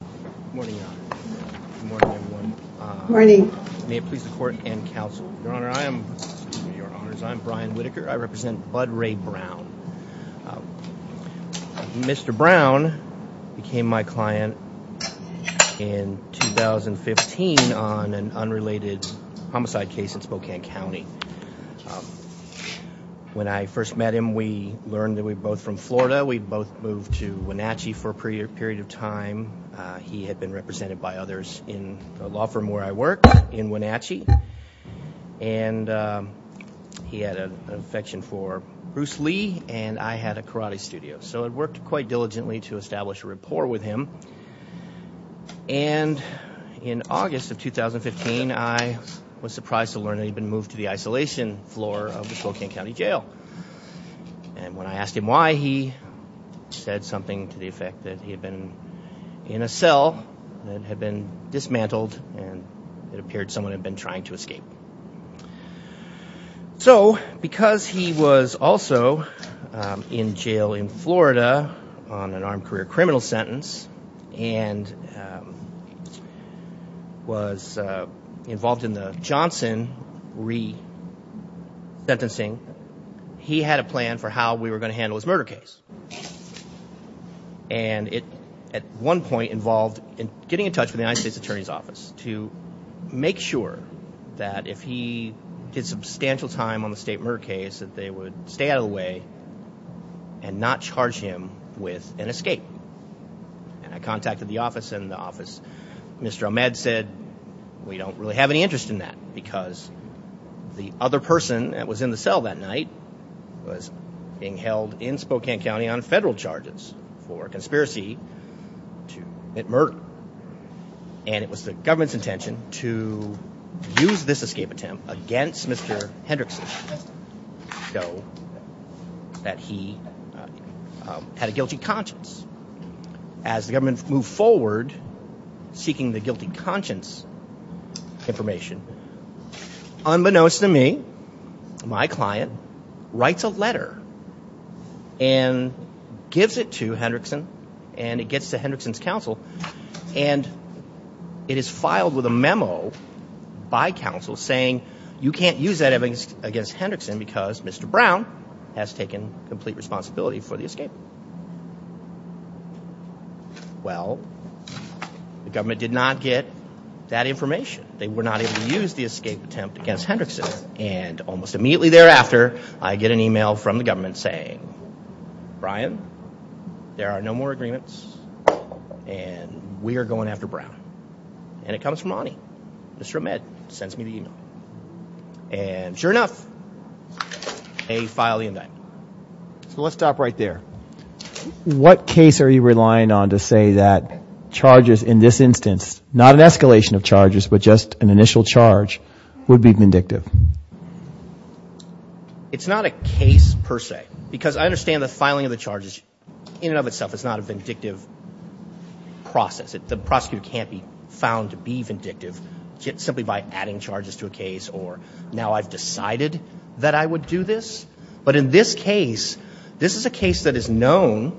Good morning, Your Honor. Good morning, everyone. May it please the court and counsel. Your Honor, I am, excuse me, Your Honors, I am Brian Whitaker. I represent Bud Ray Brown. Mr. Brown became my client in 2015 on an unrelated homicide case in Spokane County. When I first met him, we learned that we were both from Florida. We'd both moved to Wenatchee for a period of time. He had been represented by others in a law firm where I worked in Wenatchee. And he had an affection for Bruce Lee, and I had a karate studio. So I worked quite diligently to establish a rapport with him. And in August of 2015, I was surprised to learn that he'd been moved to the isolation floor of the Spokane County Jail. And when I asked him why, he said something to the effect that he had been in a cell that had been dismantled, and it appeared someone had been trying to escape. So because he was also in jail in Florida on an armed career criminal sentence and was involved in the Johnson re-sentencing, he had a plan for how we were going to handle his murder case. And it, at one point, involved getting in touch with the United States Attorney's Office to make sure that if he did substantial time on the state murder case, that they would stay out of the way and not charge him with an escape. And I contacted the office, and the office, Mr. Ahmed said, we don't really have any interest in that because the other person that was in the cell that night was being held in Spokane County on federal charges for conspiracy to commit murder. And it was the government's intention to use this escape attempt against Mr. Hendrickson so that he had a guilty conscience. As the government moved forward seeking the guilty conscience information, unbeknownst to me, my client writes a letter and gives it to Hendrickson, and it gets to Hendrickson's counsel. And it is filed with a memo by counsel saying you can't use that against Hendrickson because Mr. Brown has taken complete responsibility for the escape. Well, the government did not get that information. They were not able to use the escape attempt against Hendrickson. And almost immediately thereafter, I get an email from the government saying, Brian, there are no more agreements, and we are going after Brown. And it comes from Ani. Mr. Ahmed sends me the email. And sure enough, they file the indictment. So let's stop right there. What case are you relying on to say that charges in this instance, not an escalation of charges but just an initial charge, would be vindictive? It's not a case per se because I understand the filing of the charges in and of itself is not a vindictive process. The prosecutor can't be found to be vindictive simply by adding charges to a case or now I've decided that I would do this. But in this case, this is a case that is known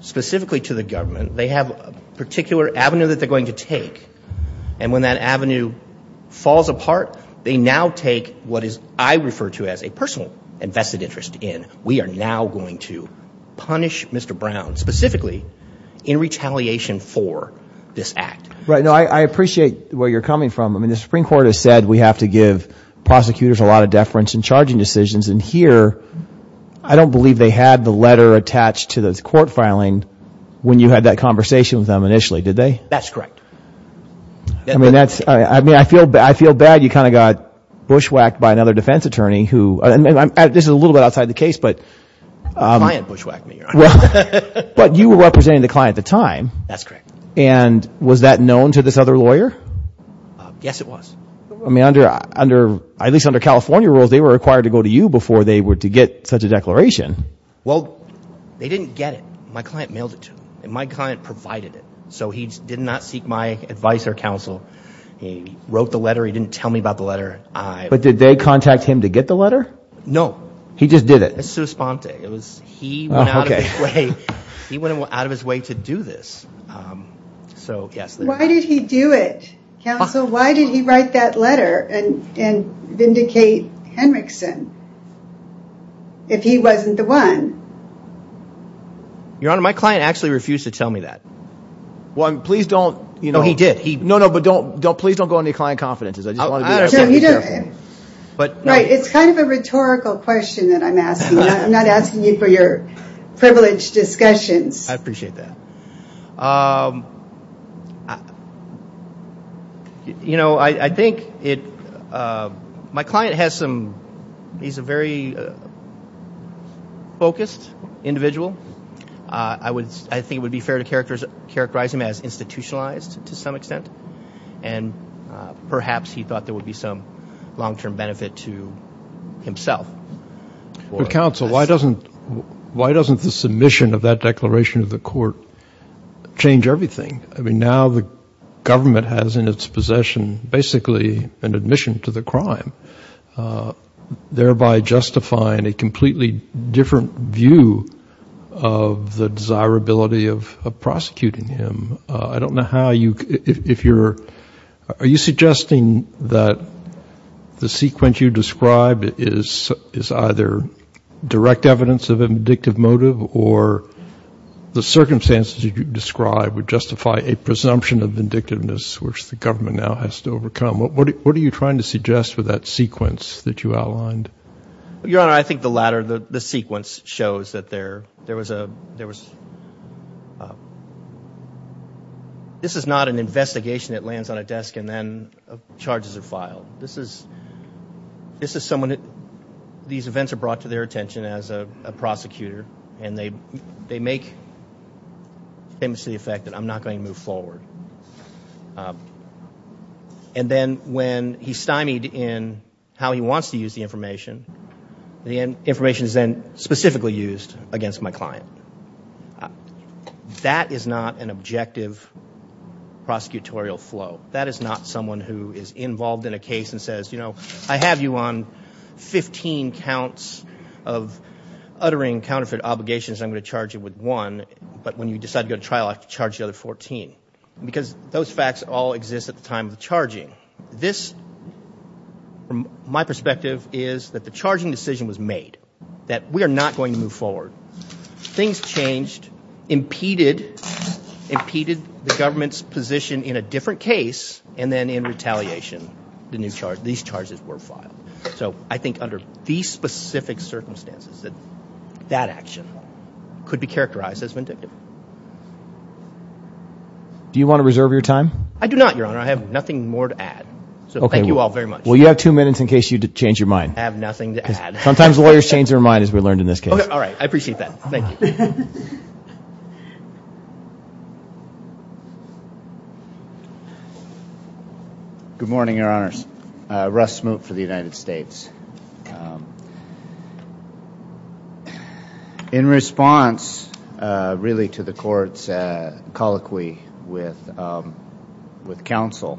specifically to the government. They have a particular avenue that they're going to take. And when that avenue falls apart, they now take what I refer to as a personal and vested interest in. We are now going to punish Mr. Brown specifically in retaliation for this act. Right. No, I appreciate where you're coming from. I mean, the Supreme Court has said we have to give prosecutors a lot of deference in charging decisions. And here, I don't believe they had the letter attached to this court filing when you had that conversation with them initially, did they? That's correct. I mean, I feel bad you kind of got bushwhacked by another defense attorney who – this is a little bit outside the case. A client bushwhacked me. But you were representing the client at the time. That's correct. And was that known to this other lawyer? Yes, it was. I mean, under – at least under California rules, they were required to go to you before they were to get such a declaration. Well, they didn't get it. My client mailed it to them, and my client provided it. So he did not seek my advice or counsel. He wrote the letter. He didn't tell me about the letter. But did they contact him to get the letter? No. He just did it? It was souspente. It was – he went out of his way to do this. So, yes. Why did he do it? Counsel, why did he write that letter and vindicate Henriksen if he wasn't the one? Your Honor, my client actually refused to tell me that. Well, please don't – No, he did. No, no, but don't – please don't go on any client confidences. I just want to be very careful. Right. It's kind of a rhetorical question that I'm asking. I'm not asking you for your privileged discussions. I appreciate that. You know, I think it – my client has some – he's a very focused individual. I think it would be fair to characterize him as institutionalized to some extent, and perhaps he thought there would be some long-term benefit to himself. Counsel, why doesn't the submission of that declaration to the court change everything? I mean, now the government has in its possession basically an admission to the crime, thereby justifying a completely different view of the desirability of prosecuting him. I don't know how you – if you're – are you suggesting that the sequence you describe is either direct evidence of a vindictive motive or the circumstances you describe would justify a presumption of vindictiveness, which the government now has to overcome? What are you trying to suggest with that sequence that you outlined? Your Honor, I think the latter, the sequence, shows that there was a – there was – this is not an investigation that lands on a desk and then charges are filed. This is someone that – these events are brought to their attention as a prosecutor, and they make famously the effect that I'm not going to move forward. And then when he's stymied in how he wants to use the information, the information is then specifically used against my client. That is not an objective prosecutorial flow. That is not someone who is involved in a case and says, you know, I have you on 15 counts of uttering counterfeit obligations and I'm going to charge you with one, but when you decide to go to trial, I have to charge the other 14, because those facts all exist at the time of the charging. This, from my perspective, is that the charging decision was made, that we are not going to move forward. Things changed, impeded the government's position in a different case, and then in retaliation the new charge – these charges were filed. So I think under these specific circumstances that that action could be characterized as vindictive. Do you want to reserve your time? I do not, Your Honor. I have nothing more to add. Thank you all very much. Well, you have two minutes in case you change your mind. I have nothing to add. Sometimes lawyers change their mind, as we learned in this case. All right. I appreciate that. Thank you. Good morning, Your Honors. Russ Smoot for the United States. In response, really, to the Court's colloquy with counsel,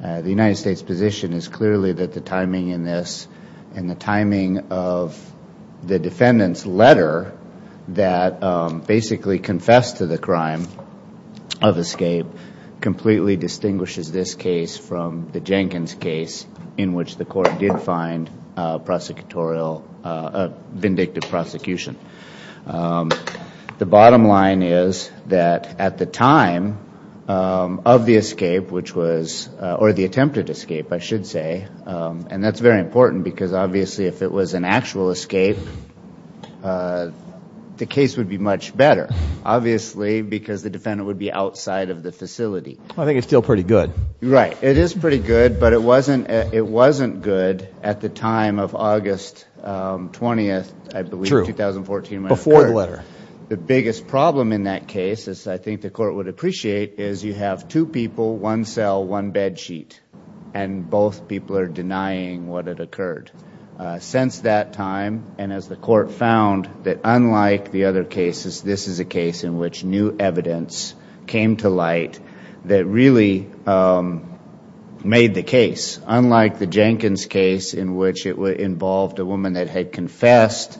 the United States' position is clearly that the timing in this and the timing of the defendant's letter that basically confessed to the crime of escape completely distinguishes this case from the Jenkins case in which the Court did find prosecutorial vindictive prosecution. The bottom line is that at the time of the escape, which was – or the attempted escape, I should say, and that's very important because obviously if it was an actual escape, the case would be much better, obviously because the defendant would be outside of the facility. I think it's still pretty good. Right. It is pretty good, but it wasn't good at the time of August 20th, I believe, 2014. True. Before the letter. The biggest problem in that case, as I think the Court would appreciate, is you have two people, one cell, one bed sheet, and both people are denying what had occurred. Since that time, and as the Court found, that unlike the other cases, this is a case in which new evidence came to light that really made the case. Unlike the Jenkins case in which it involved a woman that had confessed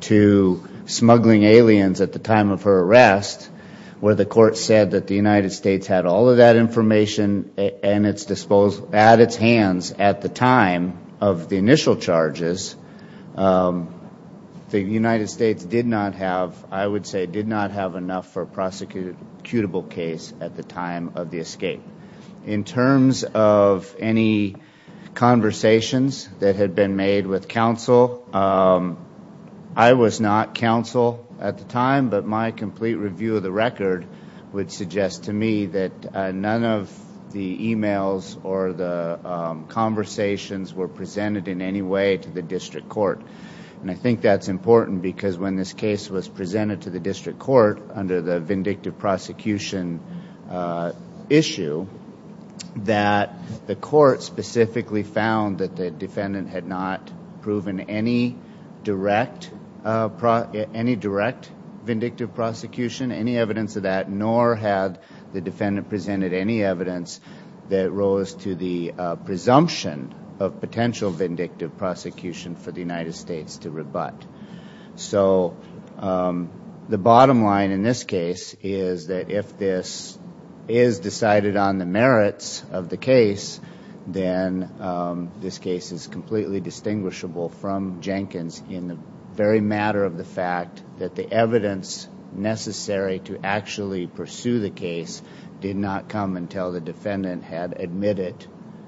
to smuggling aliens at the time of her arrest, where the Court said that the United States had all of that information at its hands at the time of the initial charges, the United States did not have, I would say, did not have enough for a prosecutable case at the time of the escape. In terms of any conversations that had been made with counsel, I was not counsel at the time, but my complete review of the record would suggest to me that none of the e-mails or the conversations were presented in any way to the district court. I think that's important because when this case was presented to the district court under the vindictive prosecution issue, that the court specifically found that the defendant had not proven any direct vindictive prosecution, any evidence of that, nor had the defendant presented any evidence that rose to the presumption of potential vindictive prosecution for the United States to rebut. So the bottom line in this case is that if this is decided on the merits of the case, then this case is completely distinguishable from Jenkins in the very matter of the fact that the evidence necessary to actually pursue the case did not come until the defendant had admitted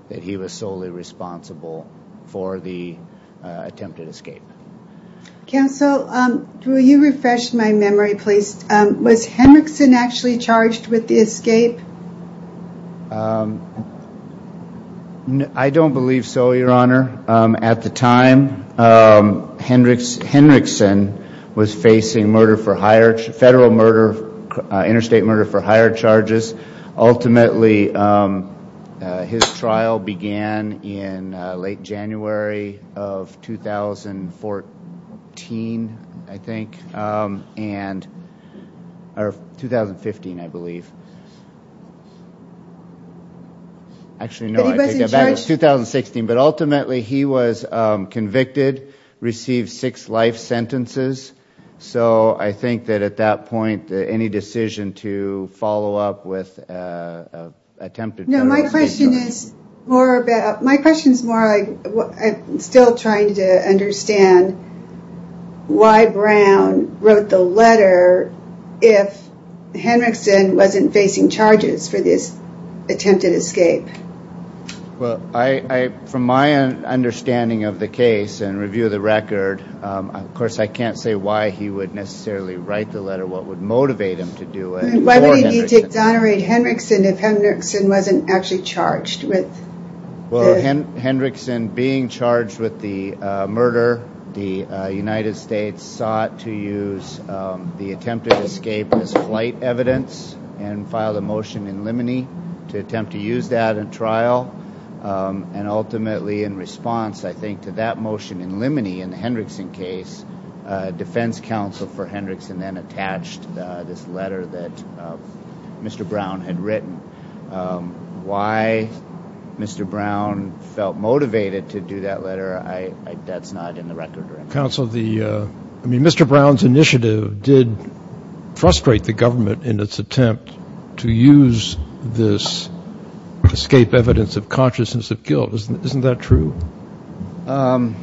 that he was solely responsible for the attempted escape. Counsel, will you refresh my memory, please? Was Hendrickson actually charged with the escape? I don't believe so, Your Honor. At the time, Hendrickson was facing murder for hire, federal murder, interstate murder for hire charges. Ultimately, his trial began in late January of 2014, I think, or 2015, I believe. Actually, no, I take that back. It was 2016. But ultimately, he was convicted, received six life sentences. So I think that at that point, any decision to follow up with attempted murder was a mistake. My question is more about, I'm still trying to understand why Brown wrote the letter if Hendrickson wasn't facing charges for this attempted escape. Well, from my understanding of the case and review of the record, of course I can't say why he would necessarily write the letter. What would motivate him to do it? Why would he need to exonerate Hendrickson if Hendrickson wasn't actually charged with it? Well, Hendrickson being charged with the murder, the United States sought to use the attempted escape as flight evidence and filed a motion in Limine to attempt to use that in trial. And ultimately, in response, I think, to that motion in Limine in the Hendrickson case, defense counsel for Hendrickson then attached this letter that Mr. Brown had written. Why Mr. Brown felt motivated to do that letter, that's not in the record. Counsel, I mean, Mr. Brown's initiative did frustrate the government in its attempt to use this escape evidence of consciousness of guilt. Isn't that true? The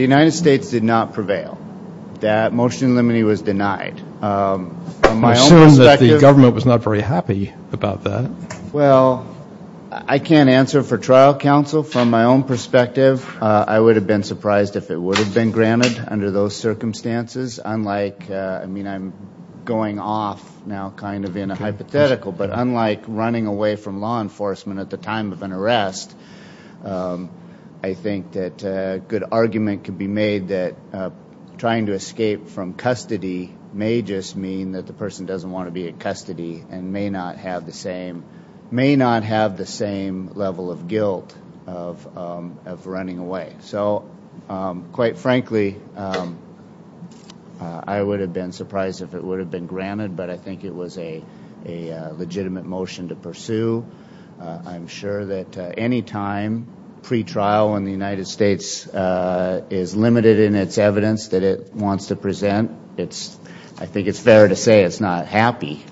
United States did not prevail. That motion in Limine was denied. I assume that the government was not very happy about that. Well, I can't answer for trial counsel. From my own perspective, I would have been surprised if it would have been granted under those circumstances. I mean, I'm going off now kind of in a hypothetical, but unlike running away from law enforcement at the time of an arrest, I think that a good argument could be made that trying to escape from custody may just mean that the person doesn't want to be in custody and may not have the same level of guilt of running away. So quite frankly, I would have been surprised if it would have been granted, but I think it was a legitimate motion to pursue. I'm sure that any time pretrial in the United States is limited in its evidence that it wants to present, I think it's fair to say it's not happy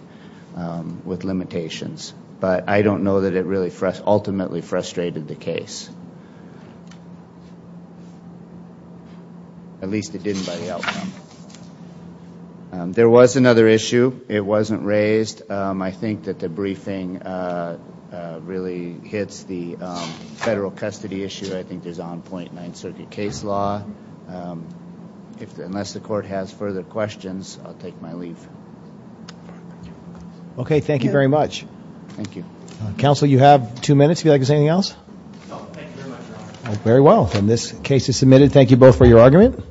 with limitations, but I don't know that it really ultimately frustrated the case. At least it didn't by the outcome. There was another issue. It wasn't raised. I think that the briefing really hits the federal custody issue. I think there's an on-point Ninth Circuit case law. Unless the court has further questions, I'll take my leave. Okay, thank you very much. Thank you. Counsel, you have two minutes if you'd like to say anything else. No, thank you very much, Your Honor. Very well. And this case is submitted. Thank you both for your argument.